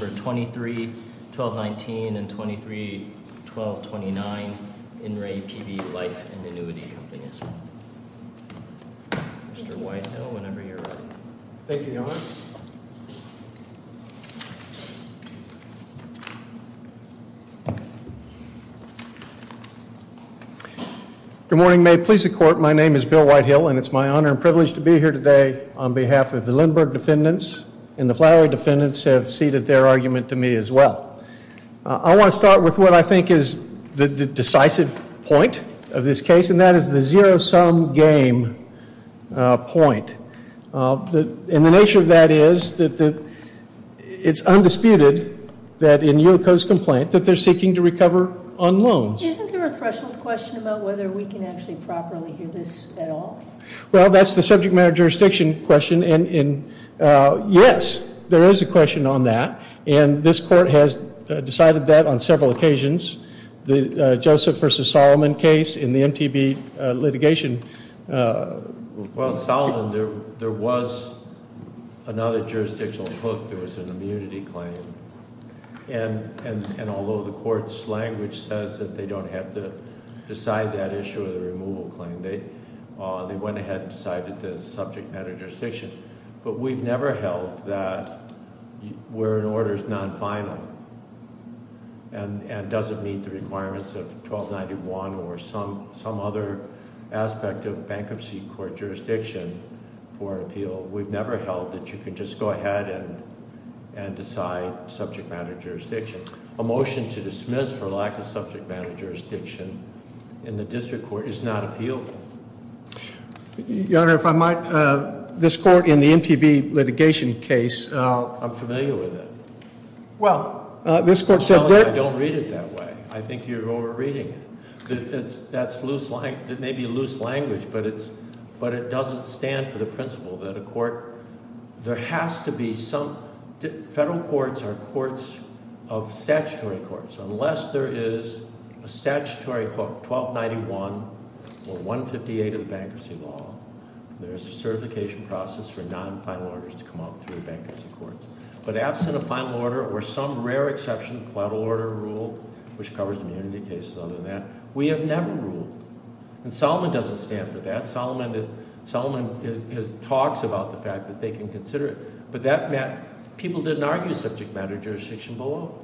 23, 1219 and 23, 1229. In re PB Life and Annuity Co., Ltd. Mr. Whitehill, whenever you're ready. Thank you, Your Honor. Good morning. May it please the Court, my name is Bill Whitehill and it's my honor and privilege to be here today on behalf of the Lindbergh and the Flowery defendants have ceded their argument to me as well. I want to start with what I think is the decisive point of this case and that is the zero-sum game point. And the nature of that is that it's undisputed that in UCO's complaint that they're seeking to recover on loans. Isn't there a threshold question about whether we can actually properly hear this at all? Well, that's the subject matter jurisdiction question and yes, there is a question on that. And this court has decided that on several occasions. The Joseph versus Solomon case in the MTB litigation. Well, Solomon, there was another jurisdictional hook. There was an immunity claim. And although the court's language says that they don't have to decide that issue of the removal claim, they went ahead and decided the subject matter jurisdiction. But we've never held that we're in orders non-final and doesn't meet the requirements of 1291 or some other aspect of bankruptcy court jurisdiction for appeal. We've never held that you can just go ahead and decide subject matter jurisdiction. A motion to dismiss for lack of subject matter jurisdiction in the district court is not appealable. Your Honor, if I might, this court in the MTB litigation case. I'm familiar with it. Well, this court said that. I don't read it that way. I think you're over reading it. That's loose, that may be loose language, but it doesn't stand for the principle that a court. There has to be some. Federal courts are courts of statutory courts. Unless there is a statutory hook, 1291 or 158 of the bankruptcy law, there's a certification process for non-final orders to come up through bankruptcy courts. But absent a final order or some rare exception, collateral order rule, which covers immunity cases other than that, we have never ruled. And Solomon doesn't stand for that. Solomon talks about the fact that they can consider it. But that meant people didn't argue subject matter jurisdiction below.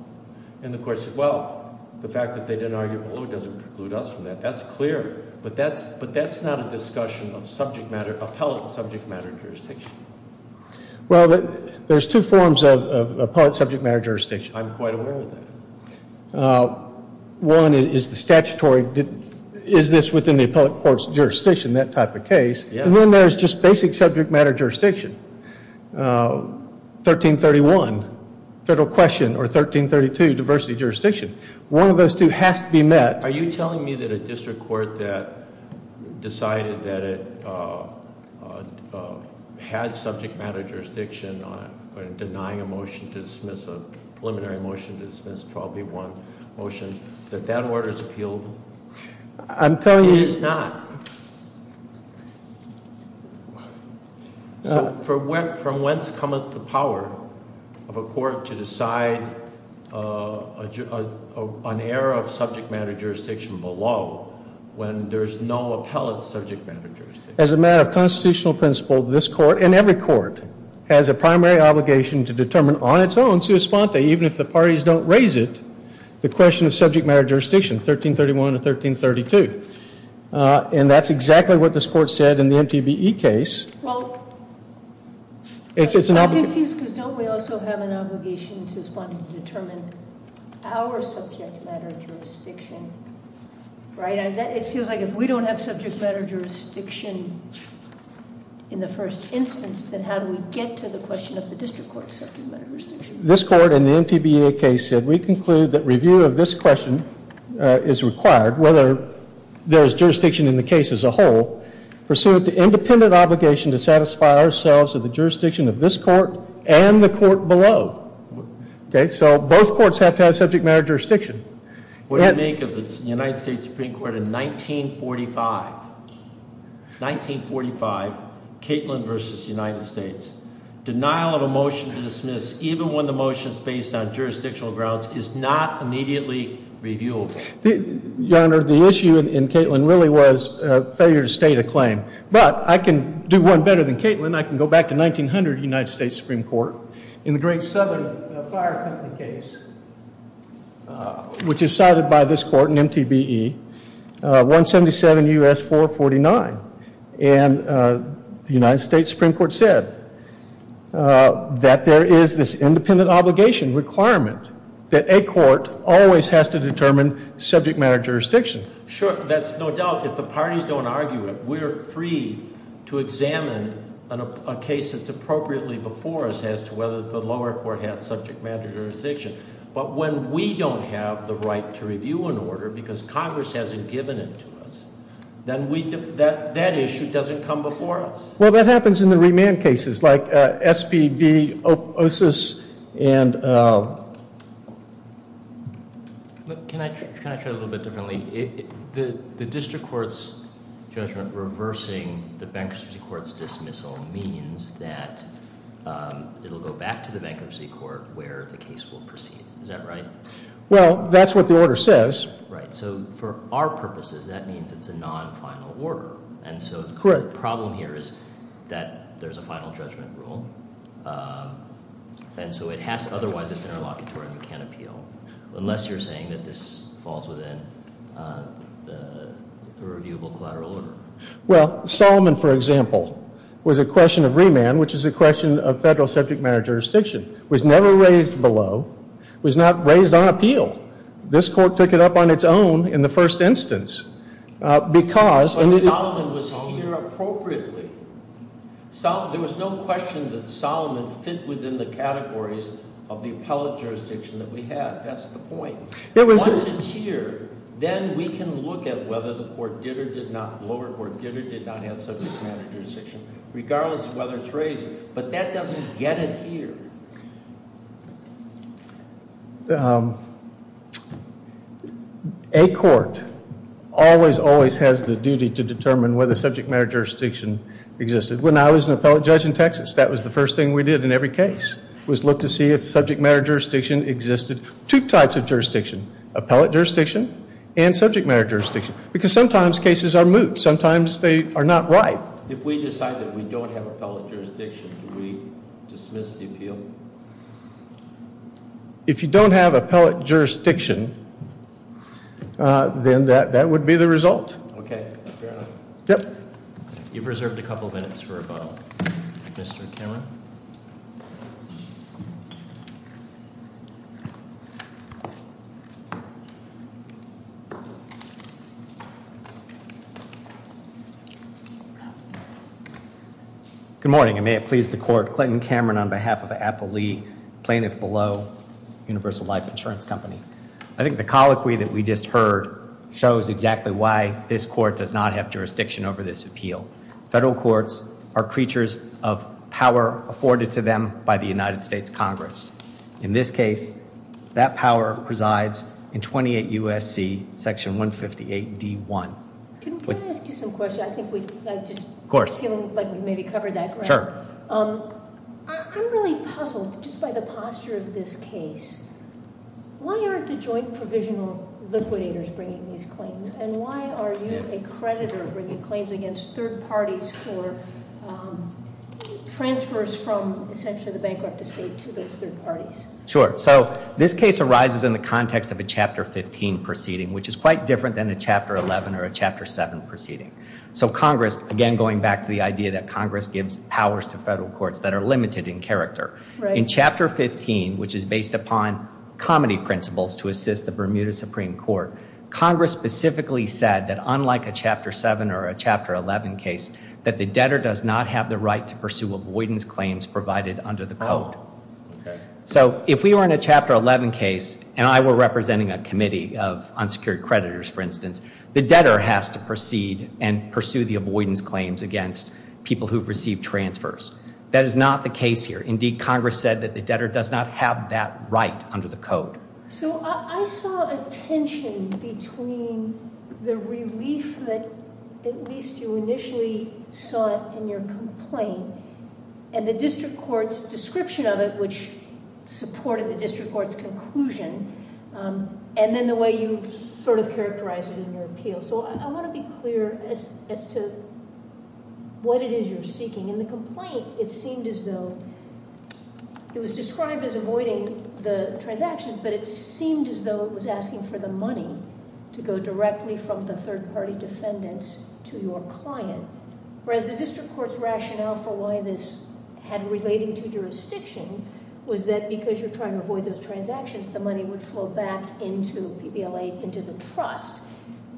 And the court said, well, the fact that they didn't argue below doesn't preclude us from that. That's clear. But that's not a discussion of subject matter, appellate subject matter jurisdiction. Well, there's two forms of appellate subject matter jurisdiction. I'm quite aware of that. One is the statutory, is this within the appellate court's jurisdiction, that type of case. And then there's just basic subject matter jurisdiction. 1331, federal question, or 1332, diversity jurisdiction. One of those two has to be met. Are you telling me that a district court that decided that it had subject matter jurisdiction on denying a motion to dismiss, a preliminary motion to dismiss 12B1 motion, that that order is appealable? I'm telling you- It is not. From whence cometh the power of a court to decide an error of subject matter jurisdiction below when there's no appellate subject matter jurisdiction? As a matter of constitutional principle, this court, and every court, has a primary obligation to determine on its own, sui sponte, even if the parties don't raise it, the question of subject matter jurisdiction, 1331 or 1332. And that's exactly what this court said in the MTBE case. Well, I'm confused because don't we also have an obligation to respond and determine our subject matter jurisdiction, right? It feels like if we don't have subject matter jurisdiction in the first instance, then how do we get to the question of the district court's subject matter jurisdiction? This court, in the MTBE case, said, We conclude that review of this question is required, whether there is jurisdiction in the case as a whole, pursuant to independent obligation to satisfy ourselves of the jurisdiction of this court and the court below. Okay, so both courts have to have subject matter jurisdiction. What do you make of the United States Supreme Court in 1945? 1945, Caitlin v. United States. Denial of a motion to dismiss, even when the motion is based on jurisdictional grounds, is not immediately reviewable. Your Honor, the issue in Caitlin really was failure to state a claim. But I can do one better than Caitlin. I can go back to 1900 United States Supreme Court in the great southern fire company case, which is cited by this court in MTBE, 177 U.S. 449. And the United States Supreme Court said that there is this independent obligation requirement that a court always has to determine subject matter jurisdiction. Sure, that's no doubt. If the parties don't argue it, we're free to examine a case that's appropriately before us as to whether the lower court has subject matter jurisdiction. But when we don't have the right to review an order because Congress hasn't given it to us, then that issue doesn't come before us. Well, that happens in the remand cases, like SPV, OSIS, and... Can I try a little bit differently? The district court's judgment reversing the bankruptcy court's dismissal means that it will go back to the bankruptcy court where the case will proceed. Is that right? Well, that's what the order says. Right. So for our purposes, that means it's a non-final order. And so the problem here is that there's a final judgment rule. And so it has to, otherwise it's interlocutory and we can't appeal, unless you're saying that this falls within the reviewable collateral order. Well, Solomon, for example, was a question of remand, which is a question of federal subject matter jurisdiction. It was never raised below. It was not raised on appeal. This court took it up on its own in the first instance because... But Solomon was here appropriately. There was no question that Solomon fit within the categories of the appellate jurisdiction that we had. That's the point. Once it's here, then we can look at whether the lower court did or did not have subject matter jurisdiction, regardless of whether it's raised. But that doesn't get it here. A court always, always has the duty to determine whether subject matter jurisdiction existed. When I was an appellate judge in Texas, that was the first thing we did in every case, was look to see if subject matter jurisdiction existed. Two types of jurisdiction, appellate jurisdiction and subject matter jurisdiction. Because sometimes cases are moot. Sometimes they are not right. If we decide that we don't have appellate jurisdiction, do we dismiss the appeal? If you don't have appellate jurisdiction, then that would be the result. Okay. Fair enough. Yep. You've reserved a couple minutes for a vote. Mr. Cameron. Good morning, and may it please the court. Clinton Cameron on behalf of Apple Lee, Plaintiff Below, Universal Life Insurance Company. I think the colloquy that we just heard shows exactly why this court does not have jurisdiction over this appeal. Federal courts are creatures of power afforded to them by the United States Congress. In this case, that power presides in 28 U.S.C. Section 158 D.1. Can I ask you some questions? I think we've maybe covered that. Sure. I'm really puzzled just by the posture of this case. Why aren't the joint provisional liquidators bringing these claims? And why are you, a creditor, bringing claims against third parties for transfers from essentially the bankrupt estate to those third parties? Sure. So this case arises in the context of a Chapter 15 proceeding, which is quite different than a Chapter 11 or a Chapter 7 proceeding. So Congress, again going back to the idea that Congress gives powers to federal courts that are limited in character. In Chapter 15, which is based upon comedy principles to assist the Bermuda Supreme Court, Congress specifically said that unlike a Chapter 7 or a Chapter 11 case, that the debtor does not have the right to pursue avoidance claims provided under the code. So if we were in a Chapter 11 case, and I were representing a committee of unsecured creditors, for instance, the debtor has to proceed and pursue the avoidance claims against people who've received transfers. That is not the case here. Indeed, Congress said that the debtor does not have that right under the code. So I saw a tension between the relief that at least you initially saw in your complaint and the district court's description of it, which supported the district court's conclusion, and then the way you sort of characterized it in your appeal. So I want to be clear as to what it is you're seeking. In the complaint, it seemed as though... it was described as avoiding the transactions, but it seemed as though it was asking for the money to go directly from the third-party defendants to your client, whereas the district court's rationale for why this had relating to jurisdiction was that because you're trying to avoid those transactions, the money would flow back into PBLA, into the trust.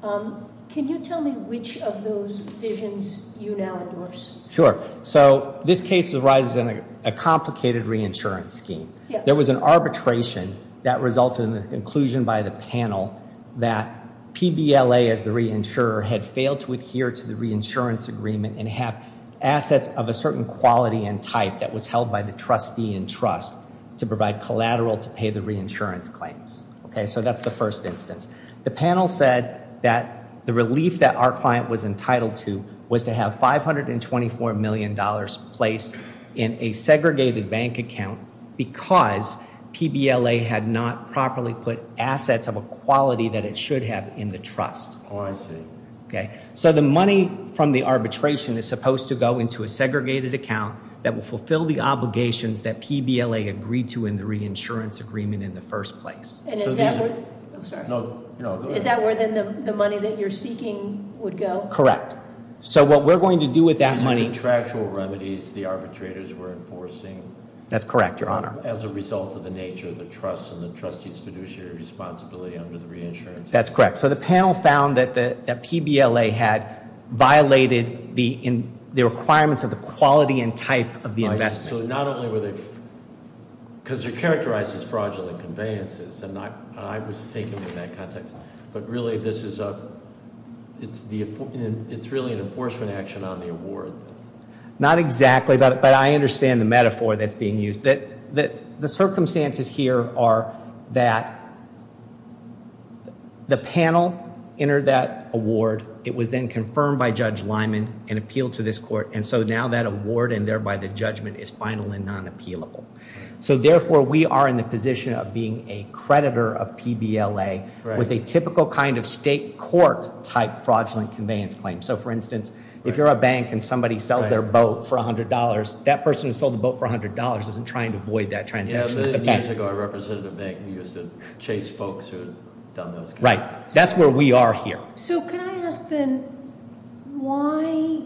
Can you tell me which of those visions you now endorse? Sure. So this case arises in a complicated reinsurance scheme. There was an arbitration that resulted in the conclusion by the panel that PBLA, as the reinsurer, had failed to adhere to the reinsurance agreement and have assets of a certain quality and type that was held by the trustee to provide collateral to pay the reinsurance claims. So that's the first instance. The panel said that the relief that our client was entitled to was to have $524 million placed in a segregated bank account because PBLA had not properly put assets of a quality that it should have in the trust. Oh, I see. So the money from the arbitration is supposed to go into a segregated account that will fulfill the obligations that PBLA agreed to in the reinsurance agreement in the first place. And is that where the money that you're seeking would go? Correct. So what we're going to do with that money- These are contractual remedies the arbitrators were enforcing- That's correct, Your Honor. As a result of the nature of the trust and the trustee's fiduciary responsibility under the reinsurance agreement. That's correct. So the panel found that PBLA had violated the requirements of the quality and type of the investment. So not only were they- Because they're characterized as fraudulent conveyances, and I was thinking in that context. But really, this is a- It's really an enforcement action on the award. Not exactly, but I understand the metaphor that's being used. The circumstances here are that the panel entered that award. It was then confirmed by Judge Lyman and appealed to this court. And so now that award and thereby the judgment is final and non-appealable. So therefore, we are in the position of being a creditor of PBLA with a typical kind of state court-type fraudulent conveyance claim. So for instance, if you're a bank and somebody sells their boat for $100, that person who sold the boat for $100 isn't trying to avoid that transaction. Yeah, but years ago, a representative bank used to chase folks who had done those kinds of things. Right. That's where we are here. So can I ask then, why-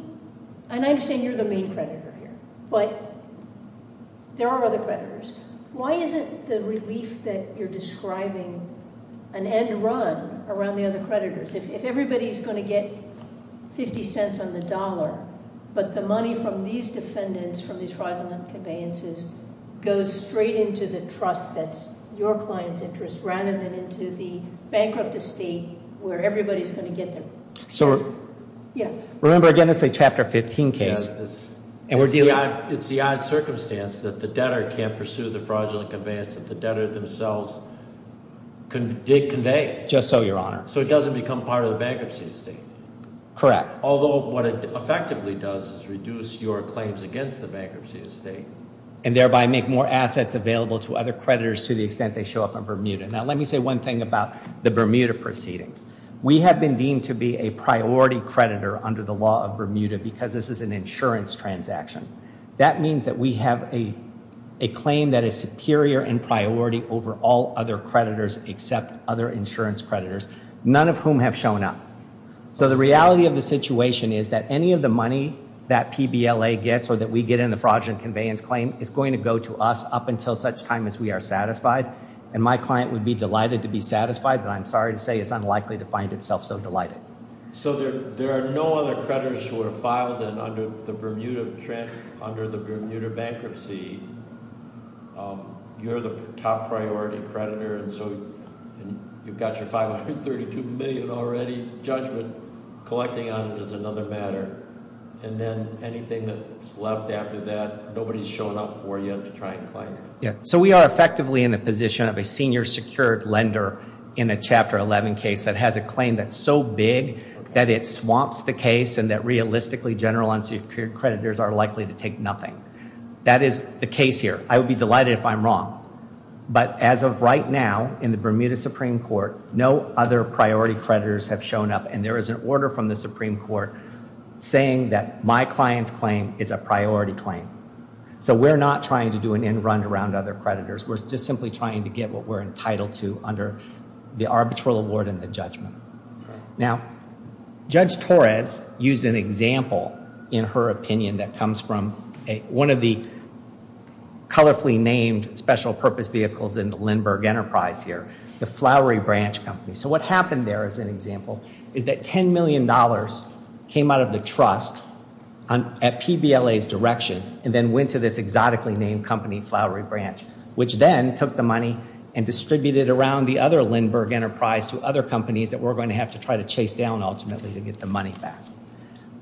And I understand you're the main creditor here. But there are other creditors. Why isn't the relief that you're describing an end run around the other creditors? If everybody's going to get $0.50 on the dollar, but the money from these defendants, from these fraudulent conveyances, goes straight into the trust that's your client's interest, rather than into the bankrupt estate where everybody's going to get their- So- Yeah. Remember, again, it's a Chapter 15 case. And we're dealing- It's the odd circumstance that the debtor can't pursue the fraudulent conveyance that the debtor themselves did convey. Just so, Your Honor. So it doesn't become part of the bankruptcy estate. Correct. Although what it effectively does is reduce your claims against the bankruptcy estate. And thereby make more assets available to other creditors to the extent they show up in Bermuda. Now, let me say one thing about the Bermuda proceedings. We have been deemed to be a priority creditor under the law of Bermuda because this is an insurance transaction. That means that we have a claim that is superior in priority over all other creditors except other insurance creditors. None of whom have shown up. So the reality of the situation is that any of the money that PBLA gets or that we get in the fraudulent conveyance claim is going to go to us up until such time as we are satisfied. And my client would be delighted to be satisfied, but I'm sorry to say it's unlikely to find itself so delighted. So there are no other creditors who are filed under the Bermuda bankruptcy. You're the top priority creditor, and so you've got your 532 million already. Judgment collecting on it is another matter. And then anything that's left after that, nobody's shown up for yet to try and claim it. So we are effectively in the position of a senior secured lender in a Chapter 11 case that has a claim that's so big that it swamps the case and that realistically general unsecured creditors are likely to take nothing. That is the case here. I would be delighted if I'm wrong. But as of right now in the Bermuda Supreme Court, no other priority creditors have shown up. And there is an order from the Supreme Court saying that my client's claim is a priority claim. So we're not trying to do an end run around other creditors. We're just simply trying to get what we're entitled to under the arbitral award and the judgment. Now, Judge Torres used an example in her opinion that comes from one of the colorfully named special purpose vehicles in the Lindbergh Enterprise here, the Flowery Branch Company. So what happened there as an example is that $10 million came out of the trust at PBLA's direction and then went to this exotically named company, Flowery Branch, which then took the money and distributed it around the other Lindbergh Enterprise to other companies that we're going to have to try to chase down ultimately to get the money back.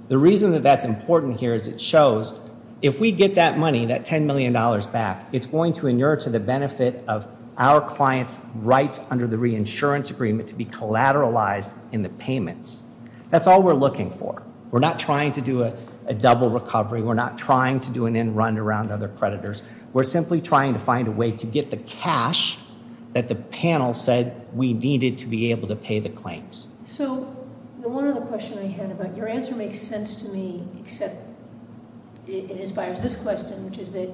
The reason that that's important here is it shows if we get that money, that $10 million back, it's going to inure to the benefit of our client's rights under the reinsurance agreement to be collateralized in the payments. That's all we're looking for. We're not trying to do a double recovery. We're not trying to do an end run around other creditors. We're simply trying to find a way to get the cash that the panel said we needed to be able to pay the claims. So the one other question I had about your answer makes sense to me except it inspires this question, which is that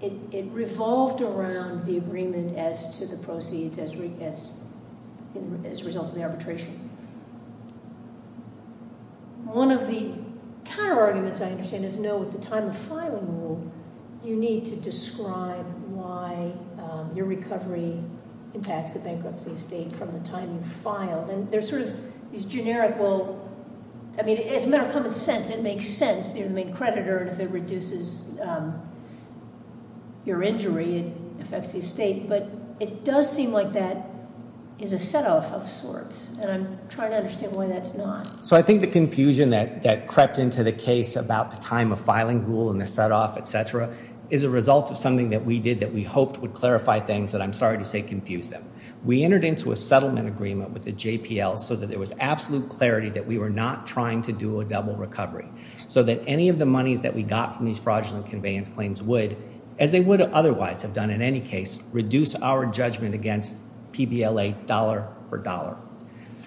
it revolved around the agreement as to the proceeds as a result of the arbitration. One of the counterarguments I understand is no, at the time of filing rule, you need to describe why your recovery impacts the bankruptcy estate from the time you filed. And there's sort of this generic, well, I mean, as a matter of common sense, it makes sense. You're the main creditor, and if it reduces your injury, it affects the estate. But it does seem like that is a setoff of sorts, and I'm trying to understand why that's not. So I think the confusion that crept into the case about the time of filing rule and the setoff, et cetera, is a result of something that we did that we hoped would clarify things that I'm sorry to say confused them. We entered into a settlement agreement with the JPL so that there was absolute clarity that we were not trying to do a double recovery so that any of the monies that we got from these fraudulent conveyance claims would, as they would otherwise have done in any case, reduce our judgment against PBLA dollar for dollar.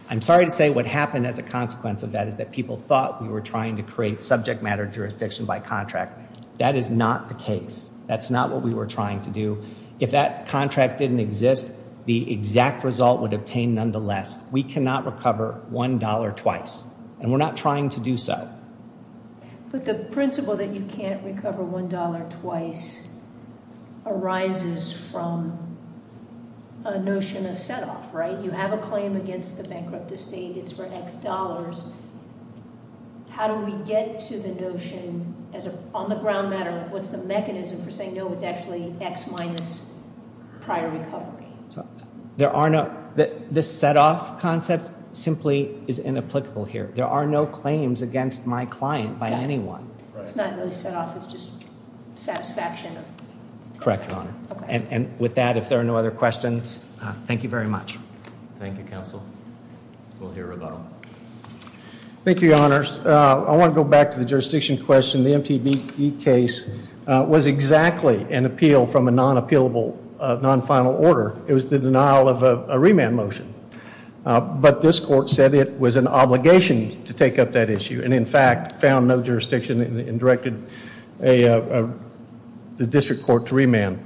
I'm sorry to say what happened as a consequence of that is that people thought we were trying to create subject matter jurisdiction by contract. That is not the case. That's not what we were trying to do. If that contract didn't exist, the exact result would obtain nonetheless. We cannot recover $1 twice, and we're not trying to do so. But the principle that you can't recover $1 twice arises from a notion of setoff, right? You have a claim against the bankrupt estate. It's for X dollars. How do we get to the notion as on the ground matter? What's the mechanism for saying no? It's actually X minus prior recovery. There are no this setoff concept simply is inapplicable here. There are no claims against my client by anyone. It's not really set off. It's just satisfaction. Correct. And with that, if there are no other questions, thank you very much. Thank you, Counsel. We'll hear about them. Thank you, Your Honors. I want to go back to the jurisdiction question. The MTB case was exactly an appeal from a non-appealable, non-final order. It was the denial of a remand motion. But this court said it was an obligation to take up that issue and, in fact, found no jurisdiction and directed the district court to remand.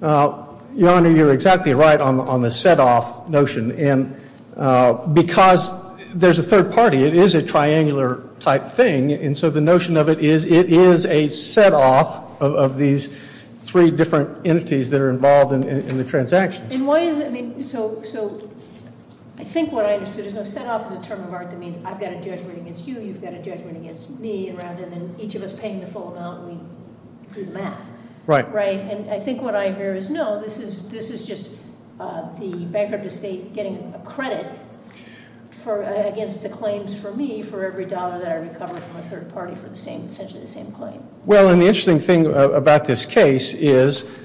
Your Honor, you're exactly right on the setoff notion. Because there's a third party, it is a triangular type thing, and so the notion of it is it is a setoff of these three different entities that are involved in the transactions. And why is it? So I think what I understood is no setoff is a term of art that means I've got a judgment against you, you've got a judgment against me rather than each of us paying the full amount and we do the math. Right. Right. And I think what I hear is no, this is just the bankrupt estate getting a credit against the claims for me for every dollar that I recover from a third party for essentially the same claim. Well, and the interesting thing about this case is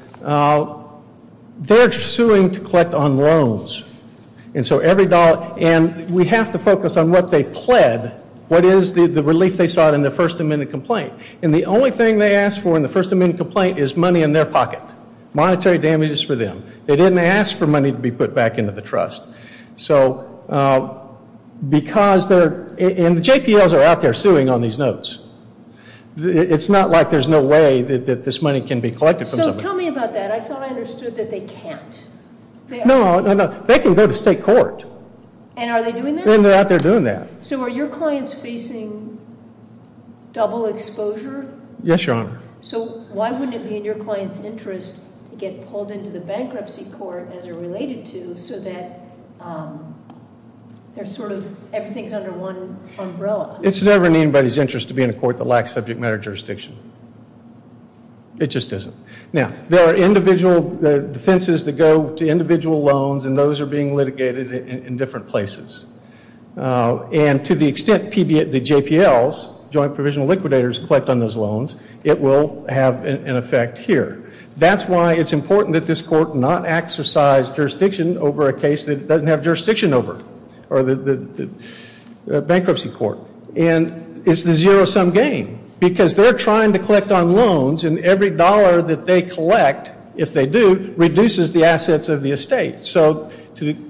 they're suing to collect on loans. And we have to focus on what they pled, what is the relief they sought in their First Amendment complaint. And the only thing they asked for in the First Amendment complaint is money in their pocket. Monetary damages for them. They didn't ask for money to be put back into the trust. So because they're, and the JPLs are out there suing on these notes. It's not like there's no way that this money can be collected from somebody. So tell me about that. I thought I understood that they can't. No, no, no. They can go to state court. And are they doing that? And they're out there doing that. So are your clients facing double exposure? Yes, Your Honor. So why wouldn't it be in your client's interest to get pulled into the bankruptcy court as it related to, so that there's sort of everything's under one umbrella? It's never in anybody's interest to be in a court that lacks subject matter jurisdiction. It just isn't. Now, there are individual defenses that go to individual loans, and those are being litigated in different places. And to the extent the JPLs, joint provisional liquidators, collect on those loans, it will have an effect here. That's why it's important that this court not exercise jurisdiction over a case that it doesn't have jurisdiction over, or the bankruptcy court. And it's the zero-sum game because they're trying to collect on loans, and every dollar that they collect, if they do, reduces the assets of the estate.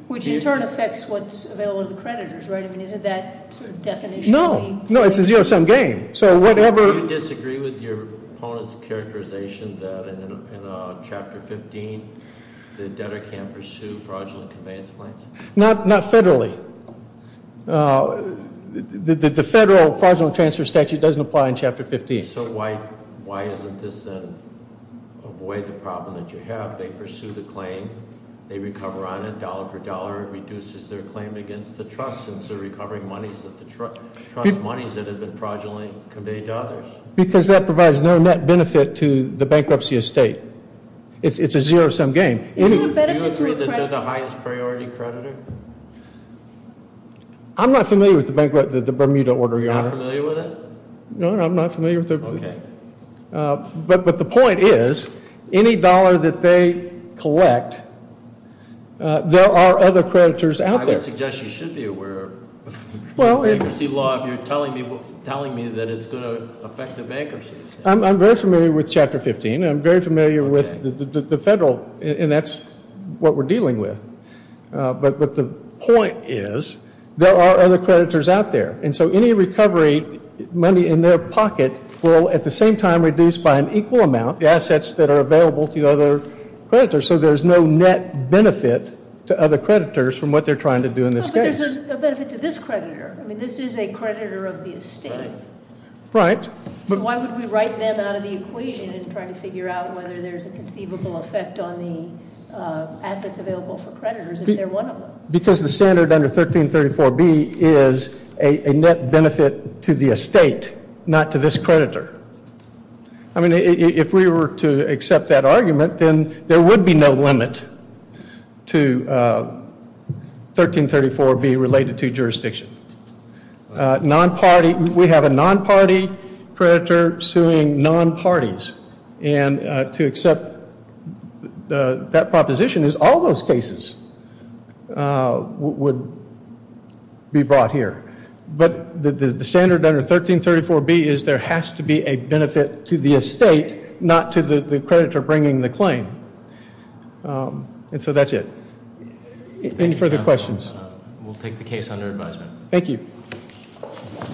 Which in turn affects what's available to the creditors, right? I mean, isn't that sort of definitionally- No, no, it's a zero-sum game. So whatever- Do you disagree with your opponent's characterization that in Chapter 15, the debtor can't pursue fraudulent conveyance claims? Not federally. The federal fraudulent transfer statute doesn't apply in Chapter 15. So why isn't this then avoid the problem that you have? They pursue the claim. They recover on it dollar for dollar. It reduces their claim against the trust since they're recovering monies that the trust- Trust monies that have been fraudulently conveyed to others. Because that provides no net benefit to the bankruptcy estate. It's a zero-sum game. Do you agree they're the highest priority creditor? I'm not familiar with the Bermuda order, Your Honor. You're not familiar with it? No, I'm not familiar with it. Okay. But the point is, any dollar that they collect, there are other creditors out there. I would suggest you should be aware of bankruptcy law if you're telling me that it's going to affect the bankruptcy estate. I'm very familiar with Chapter 15. I'm very familiar with the federal, and that's what we're dealing with. But the point is, there are other creditors out there. And so any recovery money in their pocket will, at the same time, reduce by an equal amount the assets that are available to the other creditors. So there's no net benefit to other creditors from what they're trying to do in this case. No, but there's a benefit to this creditor. I mean, this is a creditor of the estate. Right. So why would we write them out of the equation in trying to figure out whether there's a conceivable effect on the assets available for creditors if they're one of them? Because the standard under 1334B is a net benefit to the estate, not to this creditor. I mean, if we were to accept that argument, then there would be no limit to 1334B related to jurisdiction. Non-party, we have a non-party creditor suing non-parties. And to accept that proposition is all those cases would be brought here. But the standard under 1334B is there has to be a benefit to the estate, not to the creditor bringing the claim. And so that's it. Any further questions? We'll take the case under advisement. Thank you.